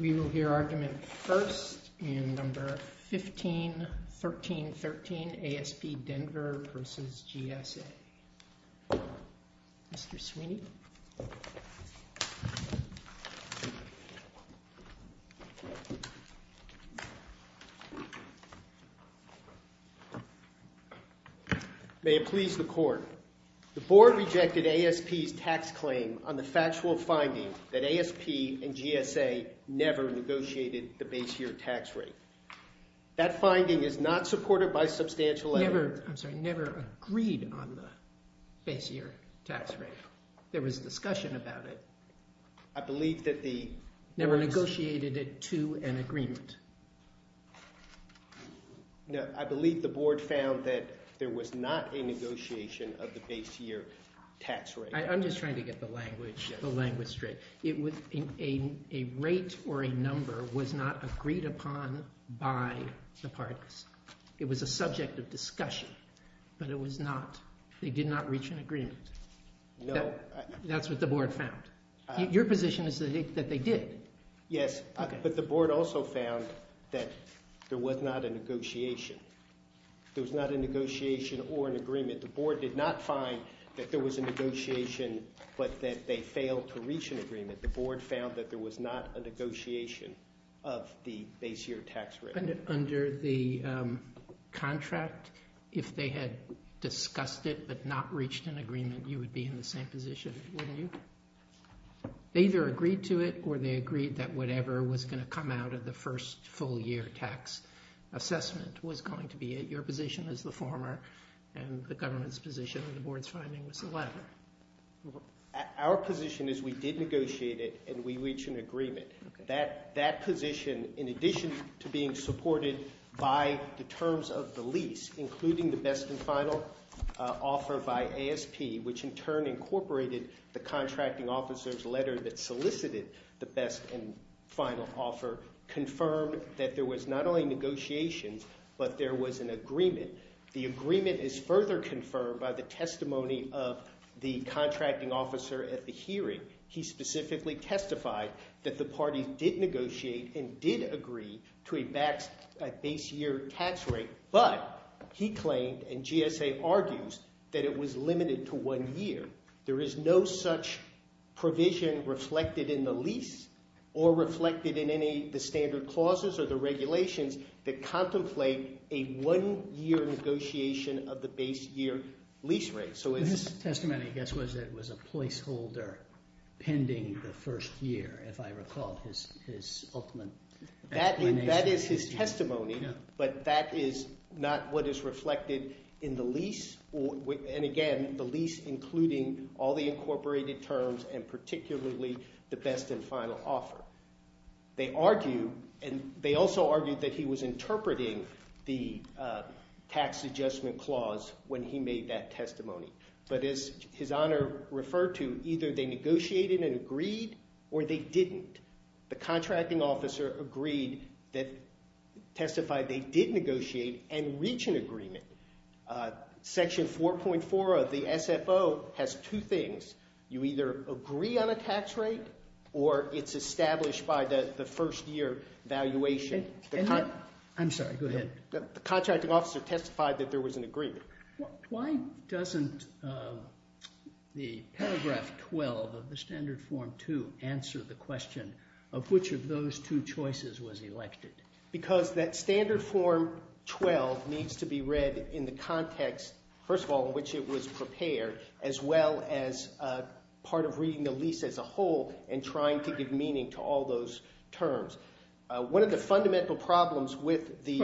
We will hear argument first in No. 151313 ASP Denver v. GSA. Mr. Sweeney. May it please the Court. The Board rejected ASP's tax claim on the factual finding that ASP and GSA never negotiated the base year tax rate. That finding is not supported by substantial evidence. Never, I'm sorry, never agreed on the base year tax rate. There was discussion about it. I believe that the Never negotiated it to an agreement. No, I believe the Board found that there was not a negotiation of the base year tax rate. I'm just trying to get the language straight. A rate or a number was not agreed upon by the parties. It was a subject of discussion, but it was not. They did not reach an agreement. No. That's what the Board found. Your position is that they did. Yes, but the Board also found that there was not a negotiation. There was not a negotiation or an agreement. The Board did not find that there was a negotiation, but that they failed to reach an agreement. The Board found that there was not a negotiation of the base year tax rate. Under the contract, if they had discussed it but not reached an agreement, you would be in the same position, wouldn't you? They either agreed to it or they agreed that whatever was going to come out of the first full year tax assessment was going to be it. Your position as the former and the government's position and the Board's finding was the latter. Our position is we did negotiate it and we reached an agreement. That position, in addition to being supported by the terms of the lease, including the best and final offer by ASP, which in turn incorporated the contracting officer's letter that solicited the best and final offer, confirmed that there was not only negotiations but there was an agreement. The agreement is further confirmed by the testimony of the contracting officer at the hearing. He specifically testified that the party did negotiate and did agree to a base year tax rate, but he claimed and GSA argues that it was limited to one year. There is no such provision reflected in the lease or reflected in any of the standard clauses or the regulations that contemplate a one-year negotiation of the base year lease rate. His testimony, I guess, was that it was a placeholder pending the first year, if I recall, his ultimate explanation. That is his testimony, but that is not what is reflected in the lease. And again, the lease including all the incorporated terms and particularly the best and final offer. They argue and they also argue that he was interpreting the tax adjustment clause when he made that testimony. But as His Honor referred to, either they negotiated and agreed or they didn't. The contracting officer agreed that, testified they did negotiate and reach an agreement. Section 4.4 of the SFO has two things. You either agree on a tax rate or it's established by the first year valuation. I'm sorry, go ahead. Why doesn't the paragraph 12 of the Standard Form 2 answer the question of which of those two choices was elected? Because that Standard Form 12 needs to be read in the context, first of all, in which it was prepared, as well as part of reading the lease as a whole and trying to give meaning to all those terms. One of the fundamental problems with the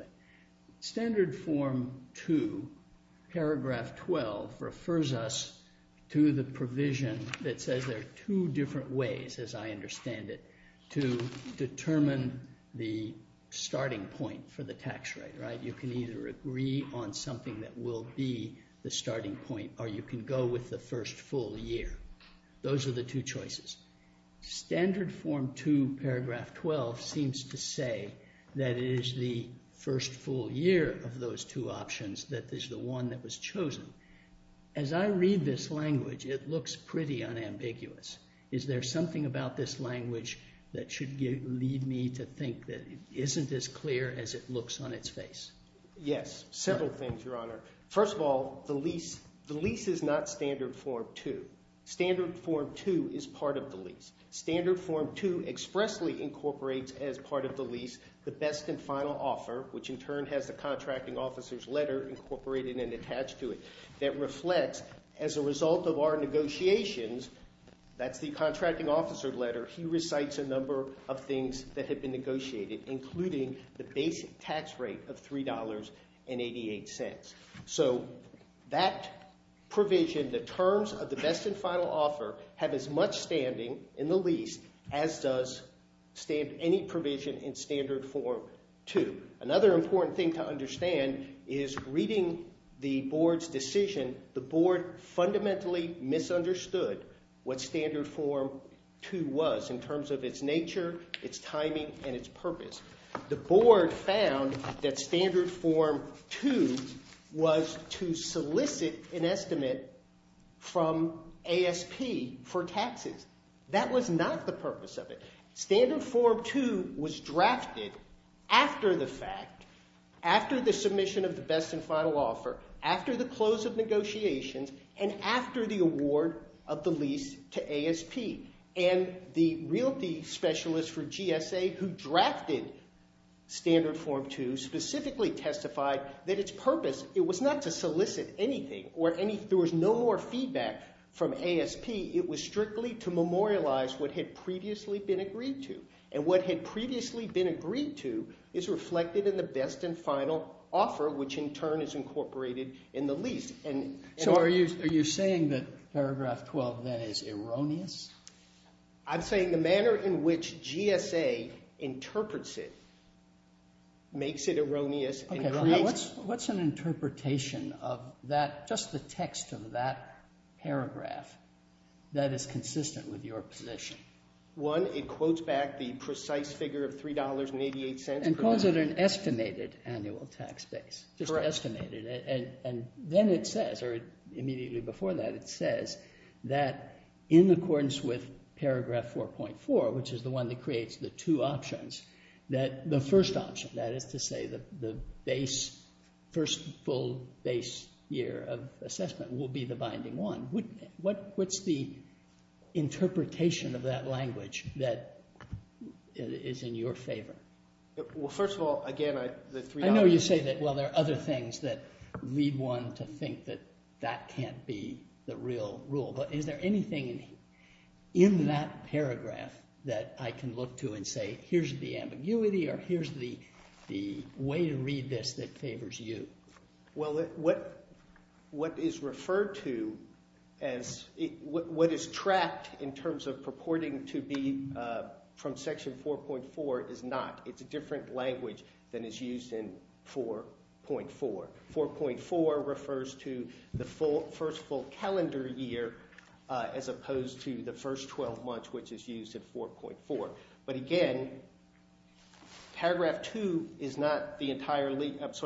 – Standard Form 2, paragraph 12, refers us to the provision that says there are two different ways, as I understand it, to determine the starting point for the tax rate, right? You can either agree on something that will be the starting point or you can go with the first full year. Those are the two choices. Standard Form 2, paragraph 12, seems to say that it is the first full year of those two options that is the one that was chosen. As I read this language, it looks pretty unambiguous. Is there something about this language that should lead me to think that it isn't as clear as it looks on its face? Yes, several things, Your Honor. First of all, the lease is not Standard Form 2. Standard Form 2 is part of the lease. Standard Form 2 expressly incorporates as part of the lease the best and final offer, which in turn has the contracting officer's letter incorporated and attached to it, that reflects as a result of our negotiations, that's the contracting officer's letter, he recites a number of things that have been negotiated, including the basic tax rate of $3.88. So that provision, the terms of the best and final offer, have as much standing in the lease as does any provision in Standard Form 2. Another important thing to understand is reading the Board's decision, the Board fundamentally misunderstood what Standard Form 2 was in terms of its nature, its timing, and its purpose. The Board found that Standard Form 2 was to solicit an estimate from ASP for taxes. That was not the purpose of it. Standard Form 2 was drafted after the fact, after the submission of the best and final offer, after the close of negotiations, and after the award of the lease to ASP. And the realty specialist for GSA who drafted Standard Form 2 specifically testified that its purpose, it was not to solicit anything, there was no more feedback from ASP, it was strictly to memorialize what had previously been agreed to. And what had previously been agreed to is reflected in the best and final offer, which in turn is incorporated in the lease. So are you saying that paragraph 12 then is erroneous? I'm saying the manner in which GSA interprets it makes it erroneous. What's an interpretation of that, just the text of that paragraph, that is consistent with your position? One, it quotes back the precise figure of $3.88 per month. So is it an estimated annual tax base, just estimated? Correct. And then it says, or immediately before that, it says that in accordance with paragraph 4.4, which is the one that creates the two options, that the first option, that is to say the first full base year of assessment, will be the binding one. What's the interpretation of that language that is in your favor? Well, first of all, again, the three options. I know you say that, well, there are other things that lead one to think that that can't be the real rule, but is there anything in that paragraph that I can look to and say, here's the ambiguity or here's the way to read this that favors you? Well, what is referred to as, what is tracked in terms of purporting to be from section 4.4 is not. It's a different language than is used in 4.4. 4.4 refers to the first full calendar year as opposed to the first 12 months, which is used in 4.4. But again, paragraph 12 is not the entire lease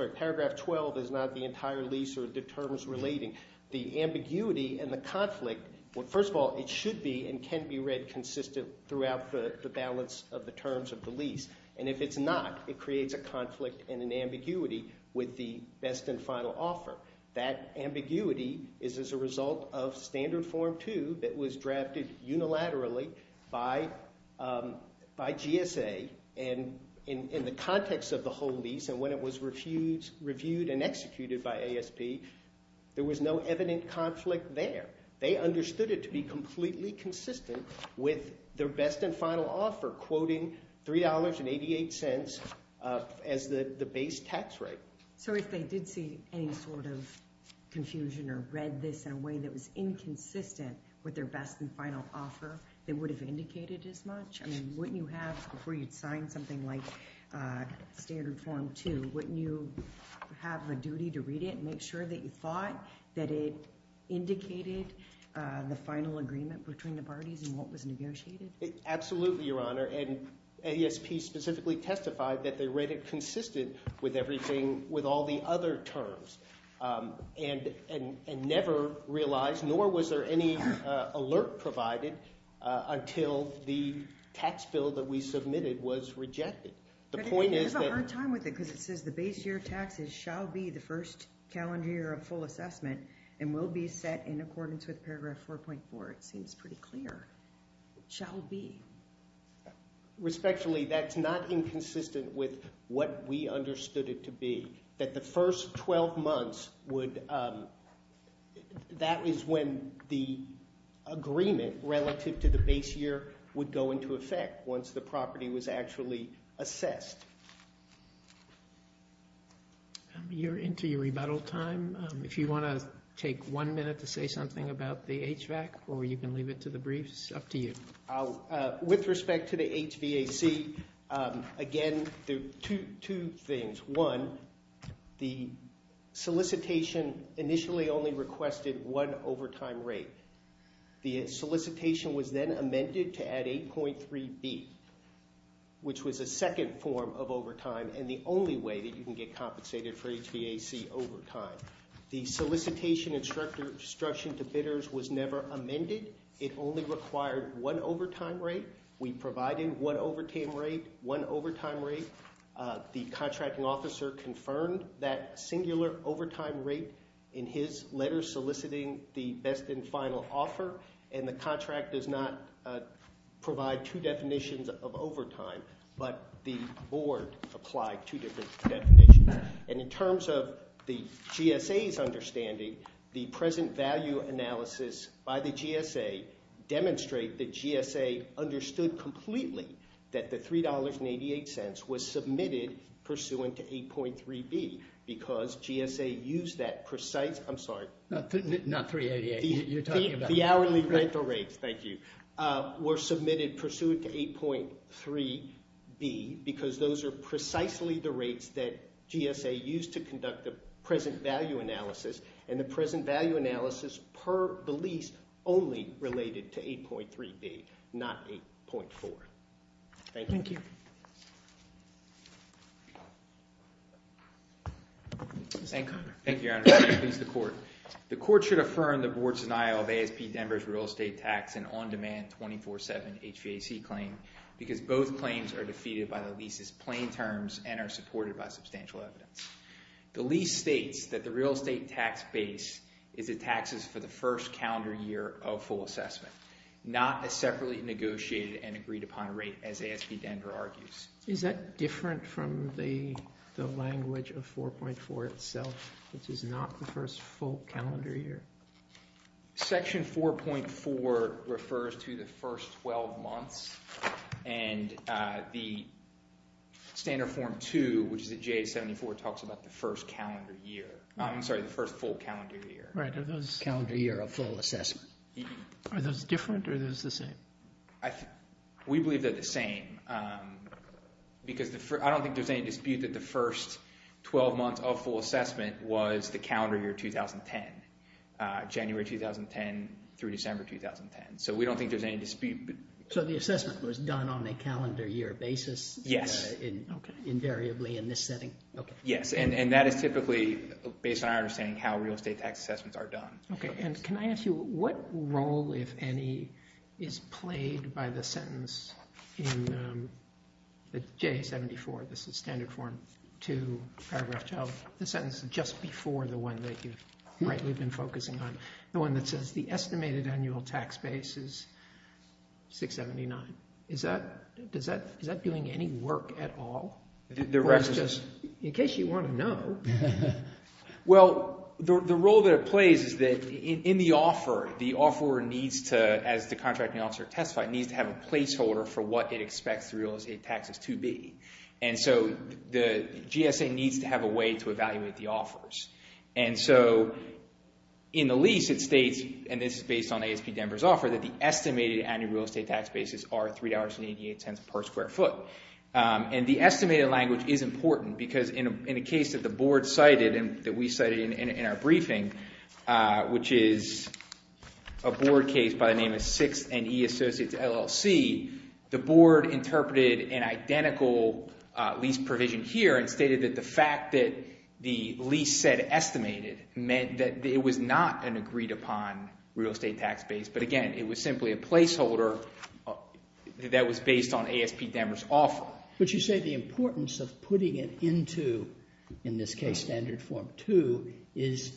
or the terms relating. The ambiguity and the conflict, well, first of all, it should be and can be read consistent throughout the balance of the terms of the lease. And if it's not, it creates a conflict and an ambiguity with the best and final offer. That ambiguity is as a result of Standard Form 2 that was drafted unilaterally by GSA and in the context of the whole lease and when it was reviewed and executed by ASP, there was no evident conflict there. They understood it to be completely consistent with their best and final offer, quoting $3.88 as the base tax rate. So if they did see any sort of confusion or read this in a way that was inconsistent with their best and final offer, they would have indicated as much? I mean, wouldn't you have, before you'd sign something like Standard Form 2, wouldn't you have a duty to read it and make sure that you thought that it indicated the final agreement between the parties and what was negotiated? Absolutely, Your Honor. And ASP specifically testified that they read it consistent with everything, with all the other terms and never realized nor was there any alert provided until the tax bill that we submitted was rejected. The point is that— We have a hard time with it because it says the base year of taxes shall be the first calendar year of full assessment and will be set in accordance with Paragraph 4.4. It seems pretty clear. It shall be. Respectfully, that's not inconsistent with what we understood it to be, that the first 12 months would— that is when the agreement relative to the base year would go into effect once the property was actually assessed. You're into your rebuttal time. If you want to take one minute to say something about the HVAC or you can leave it to the briefs, it's up to you. With respect to the HVAC, again, two things. One, the solicitation initially only requested one overtime rate. The solicitation was then amended to add 8.3b, which was a second form of overtime and the only way that you can get compensated for HVAC overtime. The solicitation instruction to bidders was never amended. It only required one overtime rate. We provided one overtime rate. The contracting officer confirmed that singular overtime rate in his letter soliciting the best and final offer, and the contract does not provide two definitions of overtime, but the board applied two different definitions. In terms of the GSA's understanding, the present value analysis by the GSA demonstrate that GSA understood completely that the $3.88 was submitted pursuant to 8.3b because GSA used that precise—I'm sorry. Not $3.88. You're talking about— The hourly rental rates, thank you, were submitted pursuant to 8.3b because those are precisely the rates that GSA used to conduct the present value analysis and the present value analysis per the lease only related to 8.3b, not 8.4. Thank you. Thank you, Your Honor. Please, the court. The court should affirm the board's denial of ASP Denver's real estate tax and on-demand 24-7 HVAC claim because both claims are defeated by the lease's plain terms and are supported by substantial evidence. The lease states that the real estate tax base is the taxes for the first calendar year of full assessment, not a separately negotiated and agreed upon rate, as ASP Denver argues. Is that different from the language of 4.4 itself, which is not the first full calendar year? Section 4.4 refers to the first 12 months, and the standard form 2, which is at J-74, talks about the first calendar year. I'm sorry, the first full calendar year. Right. Are those— Calendar year of full assessment. Are those different or are those the same? We believe they're the same because I don't think there's any dispute that the first 12 months of full assessment was the calendar year 2010, January 2010 through December 2010. So we don't think there's any dispute. So the assessment was done on a calendar year basis? Yes. Invariably in this setting? Yes, and that is typically based on our understanding how real estate tax assessments are done. Okay, and can I ask you what role, if any, is played by the sentence in J-74? This is standard form 2, paragraph 12, the sentence just before the one that you've rightly been focusing on, the one that says the estimated annual tax base is 679. Is that doing any work at all? The rest is— In case you want to know. Well, the role that it plays is that in the offer, the offeror needs to, as the contracting officer testified, needs to have a placeholder for what it expects the real estate taxes to be. And so the GSA needs to have a way to evaluate the offers. And so in the lease it states, and this is based on ASP Denver's offer, that the estimated annual real estate tax bases are $3.88 per square foot. And the estimated language is important because in a case that the board cited and that we cited in our briefing, which is a board case by the name of 6NE Associates LLC, the board interpreted an identical lease provision here and stated that the fact that the lease said estimated meant that it was not an agreed upon real estate tax base. But again, it was simply a placeholder that was based on ASP Denver's offer. But you say the importance of putting it into, in this case, Standard Form 2, is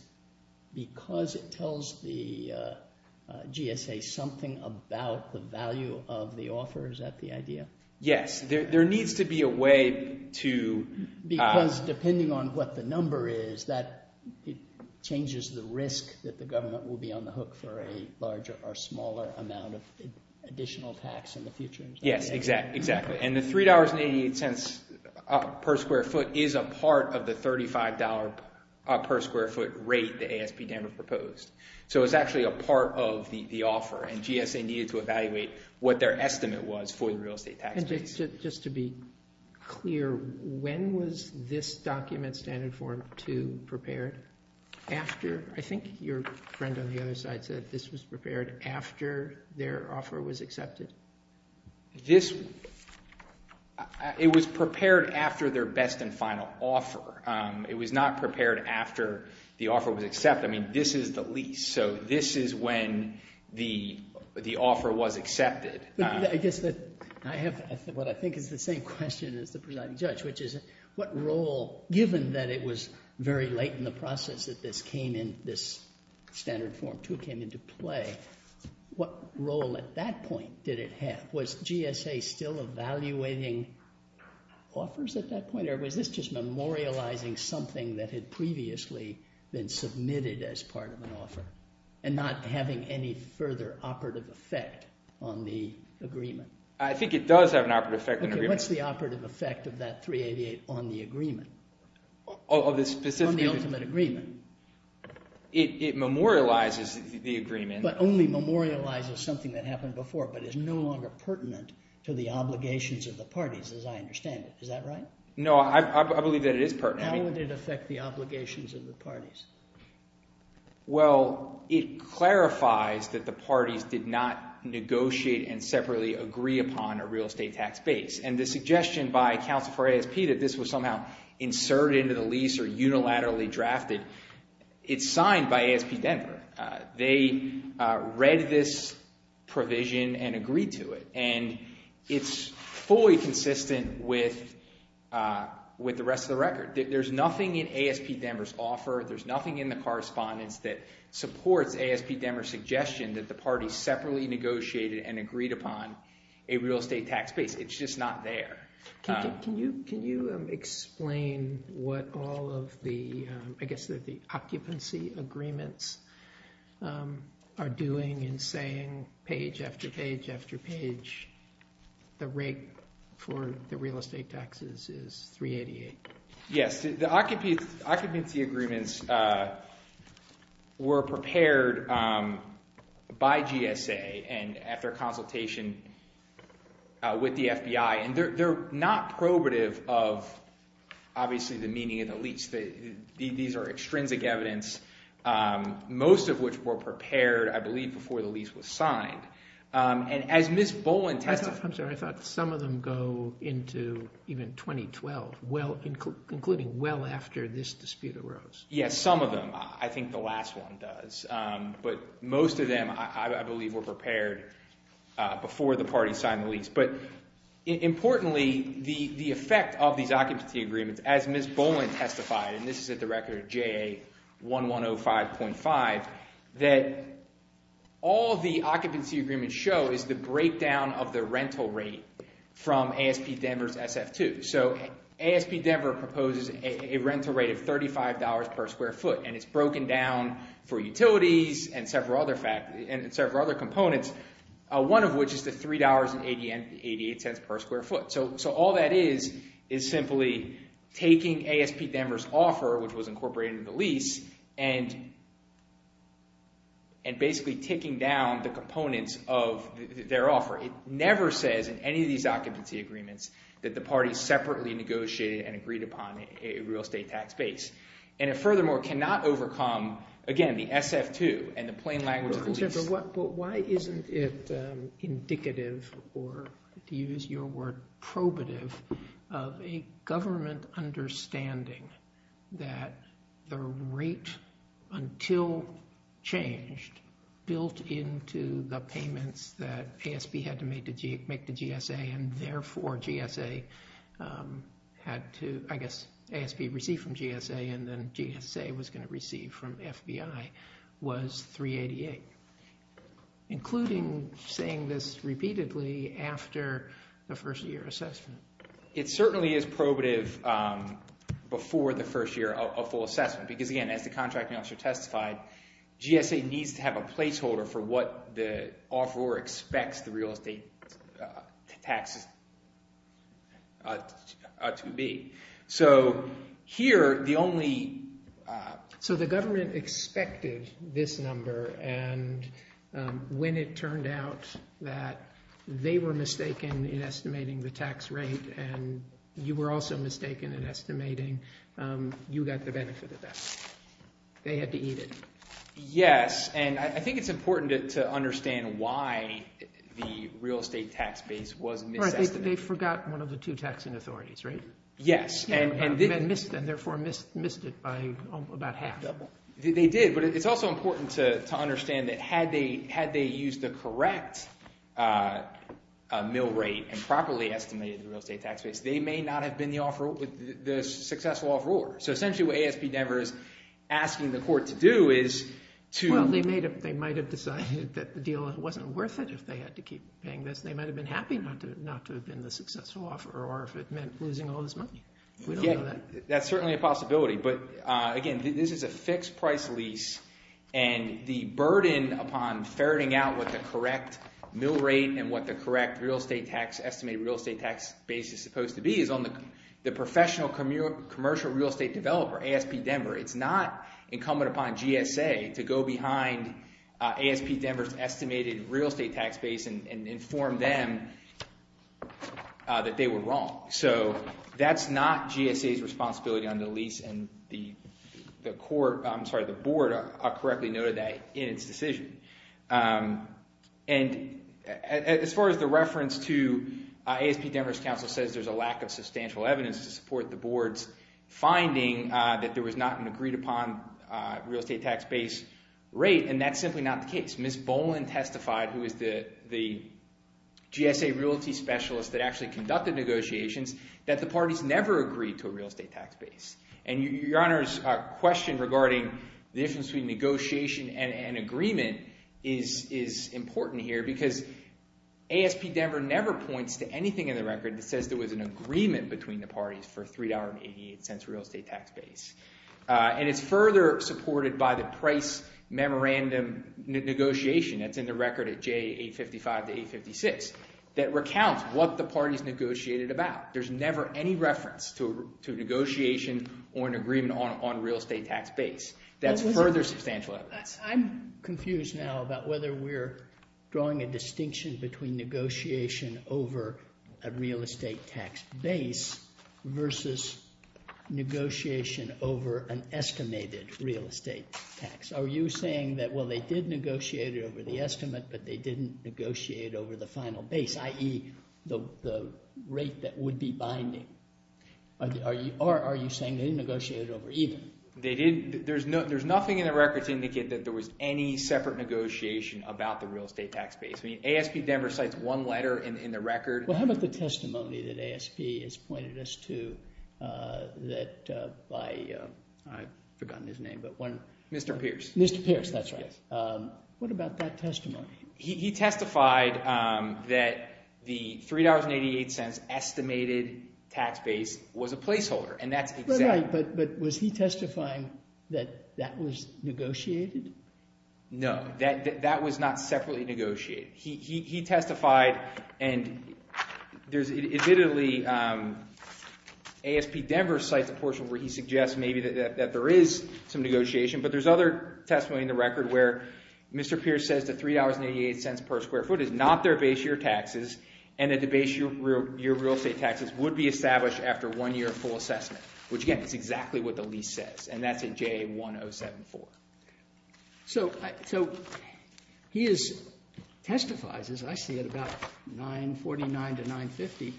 because it tells the GSA something about the value of the offer. Is that the idea? Yes. There needs to be a way to— Because depending on what the number is, it changes the risk that the government will be on the hook for a larger or smaller amount of additional tax in the future. Yes, exactly. And the $3.88 per square foot is a part of the $35 per square foot rate that ASP Denver proposed. So it's actually a part of the offer, and GSA needed to evaluate what their estimate was for the real estate tax base. Just to be clear, when was this document, Standard Form 2, prepared? After—I think your friend on the other side said this was prepared after their offer was accepted. This—it was prepared after their best and final offer. It was not prepared after the offer was accepted. I mean, this is the lease, so this is when the offer was accepted. I guess that I have what I think is the same question as the presiding judge, which is what role—given that it was very late in the process that this came in, this Standard Form 2 came into play, what role at that point did it have? Was GSA still evaluating offers at that point, or was this just memorializing something that had previously been submitted as part of an offer and not having any further operative effect on the agreement? I think it does have an operative effect on the agreement. Okay, what's the operative effect of that 388 on the agreement? On the specific— On the ultimate agreement. It memorializes the agreement. But only memorializes something that happened before, but is no longer pertinent to the obligations of the parties, as I understand it. Is that right? How would it affect the obligations of the parties? Well, it clarifies that the parties did not negotiate and separately agree upon a real estate tax base, and the suggestion by counsel for ASP that this was somehow inserted into the lease or unilaterally drafted, it's signed by ASP Denver. They read this provision and agreed to it, There's nothing in ASP Denver's offer, there's nothing in the correspondence that supports ASP Denver's suggestion that the parties separately negotiated and agreed upon a real estate tax base. It's just not there. Can you explain what all of the occupancy agreements are doing and saying page after page after page the rate for the real estate taxes is 388? Yes, the occupancy agreements were prepared by GSA and at their consultation with the FBI, and they're not probative of, obviously, the meaning of the lease. These are extrinsic evidence, most of which were prepared, I believe, before the lease was signed. And as Ms. Boland testified— Yes, some of them. I think the last one does. But most of them, I believe, were prepared before the parties signed the lease. But importantly, the effect of these occupancy agreements, as Ms. Boland testified, and this is at the record of JA1105.5, that all the occupancy agreements show is the breakdown of the rental rate from ASP Denver's SF2. So ASP Denver proposes a rental rate of $35 per square foot, and it's broken down for utilities and several other components, one of which is the $3.88 per square foot. So all that is is simply taking ASP Denver's offer, which was incorporated in the lease, and basically ticking down the components of their offer. It never says in any of these occupancy agreements that the parties separately negotiated and agreed upon a real estate tax base. And it furthermore cannot overcome, again, the SF2 and the plain language of the lease. But why isn't it indicative, or to use your word, probative, of a government understanding that the rate, until changed, built into the payments that ASP had to make to GSA, and therefore GSA had to, I guess, ASP received from GSA, and then GSA was going to receive from FBI, was $3.88, including saying this repeatedly after the first year assessment. It certainly is probative before the first year of full assessment, because, again, as the contracting officer testified, GSA needs to have a placeholder for what the offeror expects the real estate taxes to be. So here, the only— So the government expected this number, and when it turned out that they were mistaken in estimating the tax rate and you were also mistaken in estimating, you got the benefit of that. They had to eat it. Yes, and I think it's important to understand why the real estate tax base was misestimated. They forgot one of the two taxing authorities, right? Yes. And therefore missed it by about half. They did, but it's also important to understand that had they used the correct mill rate and properly estimated the real estate tax base, they may not have been the successful offeror. So essentially what ASP Devers is asking the court to do is to— Well, they might have decided that the deal wasn't worth it if they had to keep paying this. They might have been happy not to have been the successful offeror, or if it meant losing all this money. We don't know that. That's certainly a possibility. But, again, this is a fixed-price lease, and the burden upon ferreting out what the correct mill rate and what the correct estimated real estate tax base is supposed to be is on the professional commercial real estate developer, ASP Denver. It's not incumbent upon GSA to go behind ASP Denver's estimated real estate tax base and inform them that they were wrong. So that's not GSA's responsibility on the lease, and the board correctly noted that in its decision. And as far as the reference to— ASP Denver's counsel says there's a lack of substantial evidence to support the board's finding that there was not an agreed-upon real estate tax base rate, and that's simply not the case. Ms. Boland testified, who is the GSA realty specialist that actually conducted negotiations, that the parties never agreed to a real estate tax base. And Your Honor's question regarding the difference between negotiation and agreement is important here because ASP Denver never points to anything in the record that says there was an agreement between the parties for $3.88 real estate tax base. And it's further supported by the price memorandum negotiation that's in the record at J855 to J856 that recounts what the parties negotiated about. There's never any reference to a negotiation or an agreement on a real estate tax base. That's further substantial evidence. I'm confused now about whether we're drawing a distinction between negotiation over a real estate tax base versus negotiation over an estimated real estate tax. Are you saying that, well, they did negotiate it over the estimate, but they didn't negotiate it over the final base, i.e., the rate that would be binding? Or are you saying they didn't negotiate it over even? They didn't. There's nothing in the record to indicate that there was any separate negotiation about the real estate tax base. ASP Denver cites one letter in the record. Well, how about the testimony that ASP has pointed us to that by—I've forgotten his name. Mr. Pierce. Mr. Pierce, that's right. What about that testimony? He testified that the $3.88 estimated tax base was a placeholder, and that's exactly— Right, right, but was he testifying that that was negotiated? No, that was not separately negotiated. He testified, and there's—admittedly, ASP Denver cites a portion where he suggests maybe that there is some negotiation, but there's other testimony in the record where Mr. Pierce says that $3.88 per square foot is not their base year taxes and that the base year real estate taxes would be established after one year of full assessment, which, again, is exactly what the lease says, and that's at JA 1074. So he testifies, as I see it, about 949 to 950.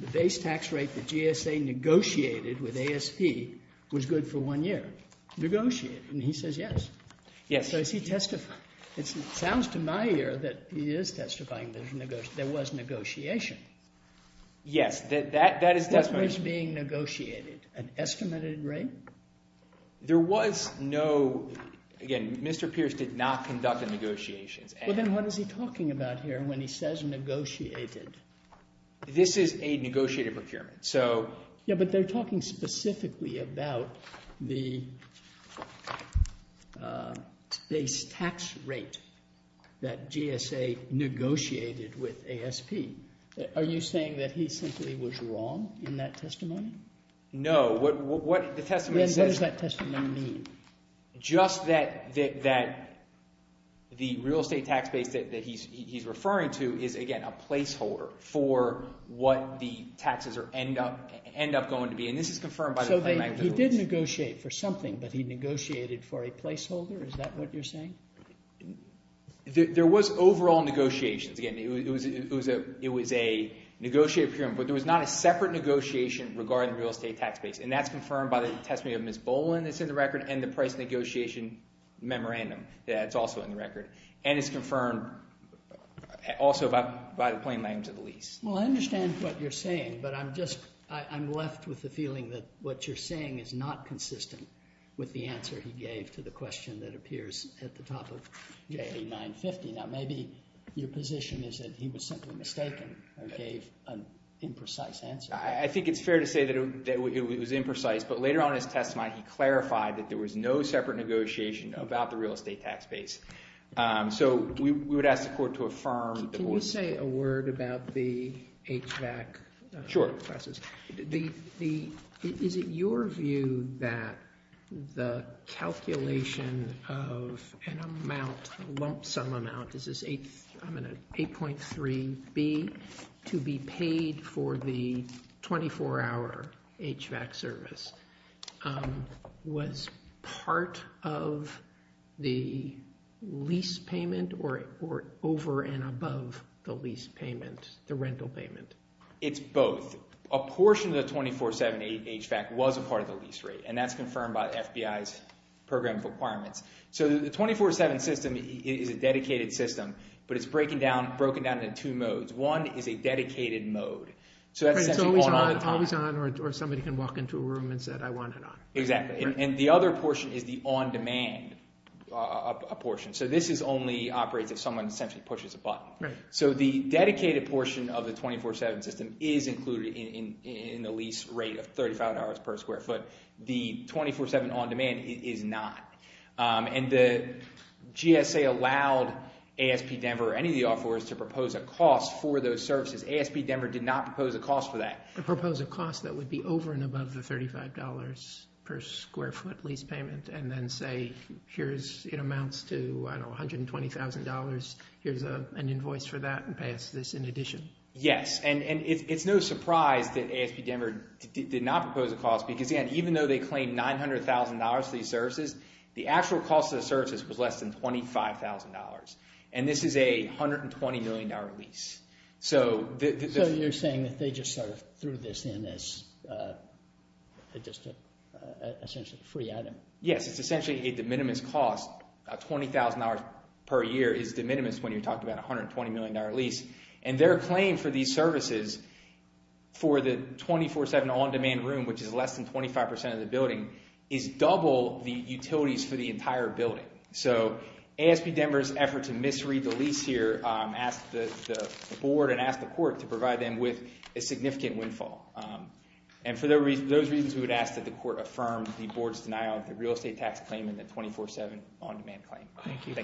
The base tax rate that GSA negotiated with ASP was good for one year. Negotiated, and he says yes. Yes. So is he testifying—it sounds to my ear that he is testifying that there was negotiation. Yes, that is testimony— That was being negotiated. An estimated rate? There was no—again, Mr. Pierce did not conduct the negotiations. Well, then what is he talking about here when he says negotiated? This is a negotiated procurement, so— Yeah, but they're talking specifically about the base tax rate that GSA negotiated with ASP. Are you saying that he simply was wrong in that testimony? No, what the testimony says— Then what does that testimony mean? Just that the real estate tax base that he's referring to is, again, a placeholder for what the taxes end up going to be, and this is confirmed by the magnitudes. So he did negotiate for something, but he negotiated for a placeholder? Is that what you're saying? There was overall negotiations. Again, it was a negotiated procurement, but there was not a separate negotiation regarding the real estate tax base, and that's confirmed by the testimony of Ms. Boland that's in the record and the price negotiation memorandum that's also in the record, and it's confirmed also by the plain language of the lease. Well, I understand what you're saying, but I'm just—I'm left with the feeling that what you're saying is not consistent with the answer he gave to the question that appears at the top of J8950. Now, maybe your position is that he was simply mistaken and gave an imprecise answer. I think it's fair to say that it was imprecise, but later on in his testimony, he clarified that there was no separate negotiation about the real estate tax base. So we would ask the court to affirm— Can you say a word about the HVAC classes? Sure. Is it your view that the calculation of an amount, a lump sum amount—this is 8.3B— to be paid for the 24-hour HVAC service was part of the lease payment or over and above the lease payment, the rental payment? It's both. A portion of the 24-7 HVAC was a part of the lease rate, and that's confirmed by the FBI's program of requirements. So the 24-7 system is a dedicated system, but it's broken down into two modes. One is a dedicated mode, so that's essentially on and off. It's always on, or somebody can walk into a room and say, I want it on. Exactly. And the other portion is the on-demand portion. So this only operates if someone essentially pushes a button. Right. So the dedicated portion of the 24-7 system is included in the lease rate of $35 per square foot. The 24-7 on-demand is not. And the GSA allowed ASP Denver or any of the offerors to propose a cost for those services. ASP Denver did not propose a cost for that. They proposed a cost that would be over and above the $35 per square foot lease payment, and then say, here's, it amounts to, I don't know, $120,000. Here's an invoice for that, and pay us this in addition. Yes, and it's no surprise that ASP Denver did not propose a cost, because, again, even though they claimed $900,000 for these services, the actual cost of the services was less than $25,000. And this is a $120 million lease. So you're saying that they just sort of threw this in as just essentially a free item. Yes, it's essentially a de minimis cost. $20,000 per year is de minimis when you're talking about a $120 million lease. And their claim for these services for the 24-7 on-demand room, which is less than 25% of the building, is double the utilities for the entire building. So ASP Denver's effort to misread the lease here asked the board and asked the court to provide them with a significant windfall. And for those reasons, we would ask that the court affirm the board's denial of the real estate tax claim and the 24-7 on-demand claim. Thank you.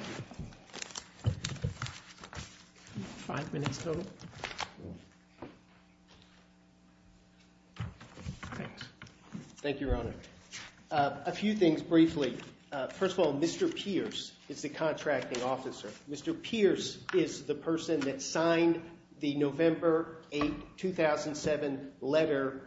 Five minutes total. Thanks. Thank you, Your Honor. A few things briefly. First of all, Mr. Pierce is the contracting officer. Mr. Pierce is the person that signed the November 8, 2007 letter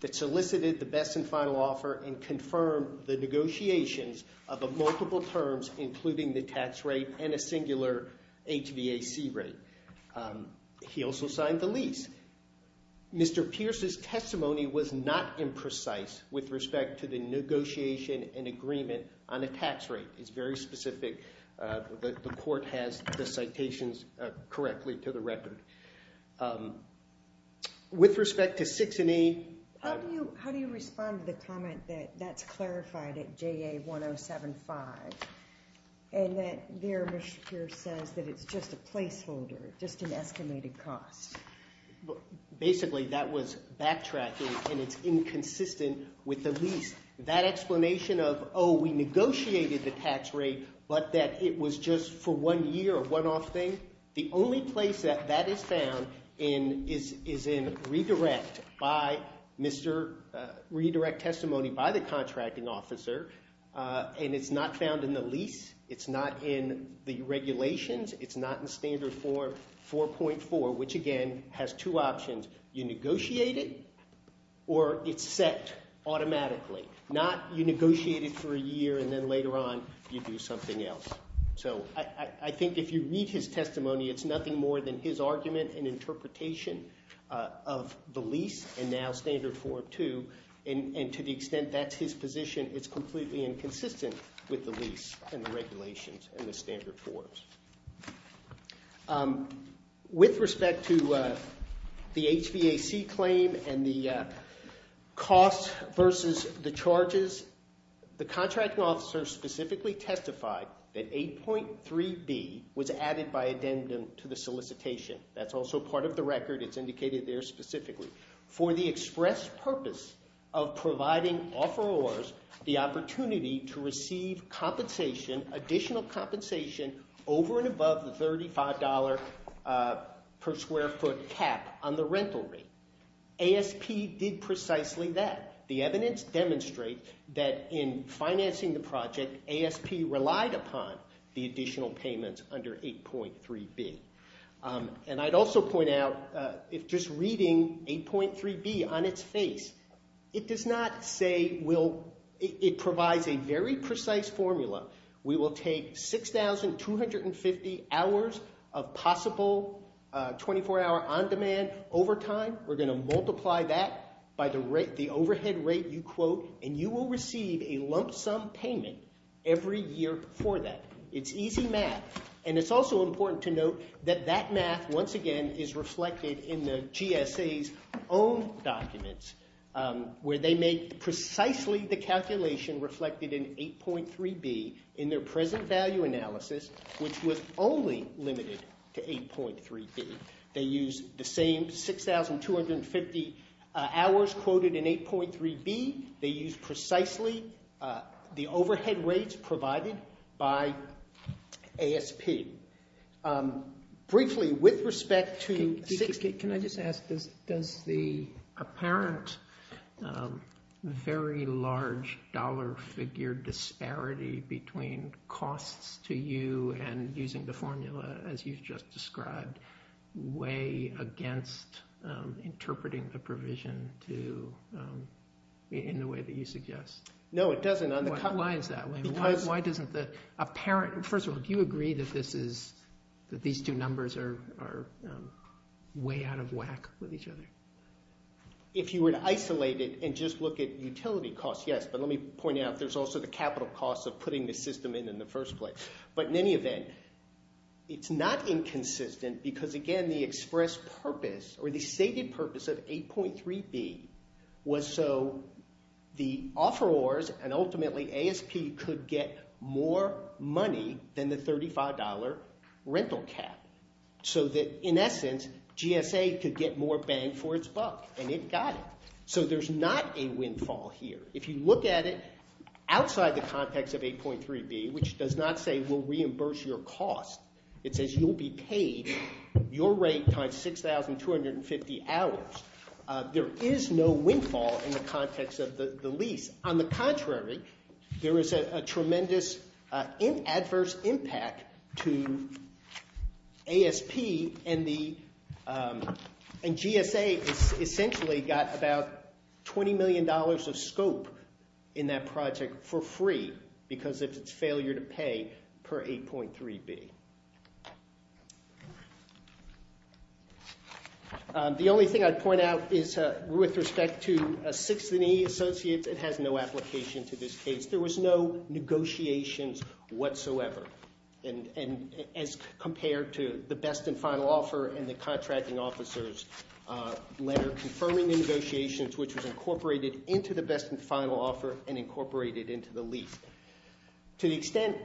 that solicited the best and final offer and confirmed the negotiations of multiple terms, including the tax rate and a singular HVAC rate. He also signed the lease. Mr. Pierce's testimony was not imprecise with respect to the negotiation and agreement on the tax rate. It's very specific. The court has the citations correctly to the record. With respect to 6 and 8— How do you respond to the comment that that's clarified at JA 1075 and that there, Mr. Pierce says that it's just a placeholder, just an estimated cost? Basically, that was backtracking, and it's inconsistent with the lease. That explanation of, oh, we negotiated the tax rate but that it was just for one year, a one-off thing, the only place that that is found is in redirect testimony by the contracting officer, and it's not found in the lease. It's not in the regulations. It's not in standard form 4.4, which, again, has two options. You negotiate it or it's set automatically. Not you negotiate it for a year and then later on you do something else. So I think if you read his testimony, it's nothing more than his argument and interpretation of the lease and now standard form 2, and to the extent that's his position, it's completely inconsistent with the lease and the regulations and the standard forms. With respect to the HVAC claim and the costs versus the charges, the contracting officer specifically testified that 8.3b was added by addendum to the solicitation. That's also part of the record. It's indicated there specifically. For the express purpose of providing offerors the opportunity to receive compensation, additional compensation over and above the $35 per square foot cap on the rental rate. ASP did precisely that. The evidence demonstrates that in financing the project, ASP relied upon the additional payments under 8.3b. And I'd also point out if just reading 8.3b on its face, it does not say it provides a very precise formula. We will take 6,250 hours of possible 24-hour on-demand overtime. We're going to multiply that by the overhead rate you quote, and you will receive a lump sum payment every year for that. It's easy math. And it's also important to note that that math, once again, is reflected in the GSA's own documents, where they make precisely the calculation reflected in 8.3b in their present value analysis, which was only limited to 8.3b. They use the same 6,250 hours quoted in 8.3b. They use precisely the overhead rates provided by ASP. Briefly, with respect to 6,250 hours. Can I just ask, does the apparent very large dollar figure disparity between costs to you and using the formula as you've just described weigh against interpreting the provision in the way that you suggest? No, it doesn't. Why is that? First of all, do you agree that these two numbers are way out of whack with each other? If you were to isolate it and just look at utility costs, yes. But let me point out there's also the capital costs of putting the system in in the first place. But in any event, it's not inconsistent because, again, the express purpose or the stated purpose of 8.3b was so the offerors and ultimately ASP could get more money than the $35 rental cap. So that, in essence, GSA could get more bang for its buck. And it got it. So there's not a windfall here. If you look at it outside the context of 8.3b, which does not say we'll reimburse your cost, it says you'll be paid your rate times 6,250 hours. There is no windfall in the context of the lease. On the contrary, there is a tremendous adverse impact to ASP and GSA essentially got about $20 million of scope in that project for free because of its failure to pay per 8.3b. The only thing I'd point out is with respect to 6 and E associates, it has no application to this case. There was no negotiations whatsoever. And as compared to the best and final offer and the contracting officer's letter confirming the negotiations, which was incorporated into the best and final offer and incorporated into the lease. To the extent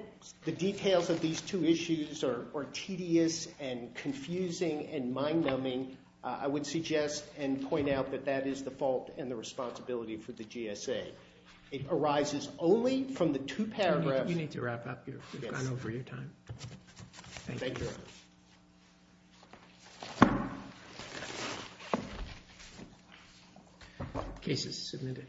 the details of these two issues are tedious and confusing and mind-numbing, I would suggest and point out that that is the fault and the responsibility for the GSA. It arises only from the two paragraphs. You need to wrap up. You've gone over your time. Thank you. Case is submitted.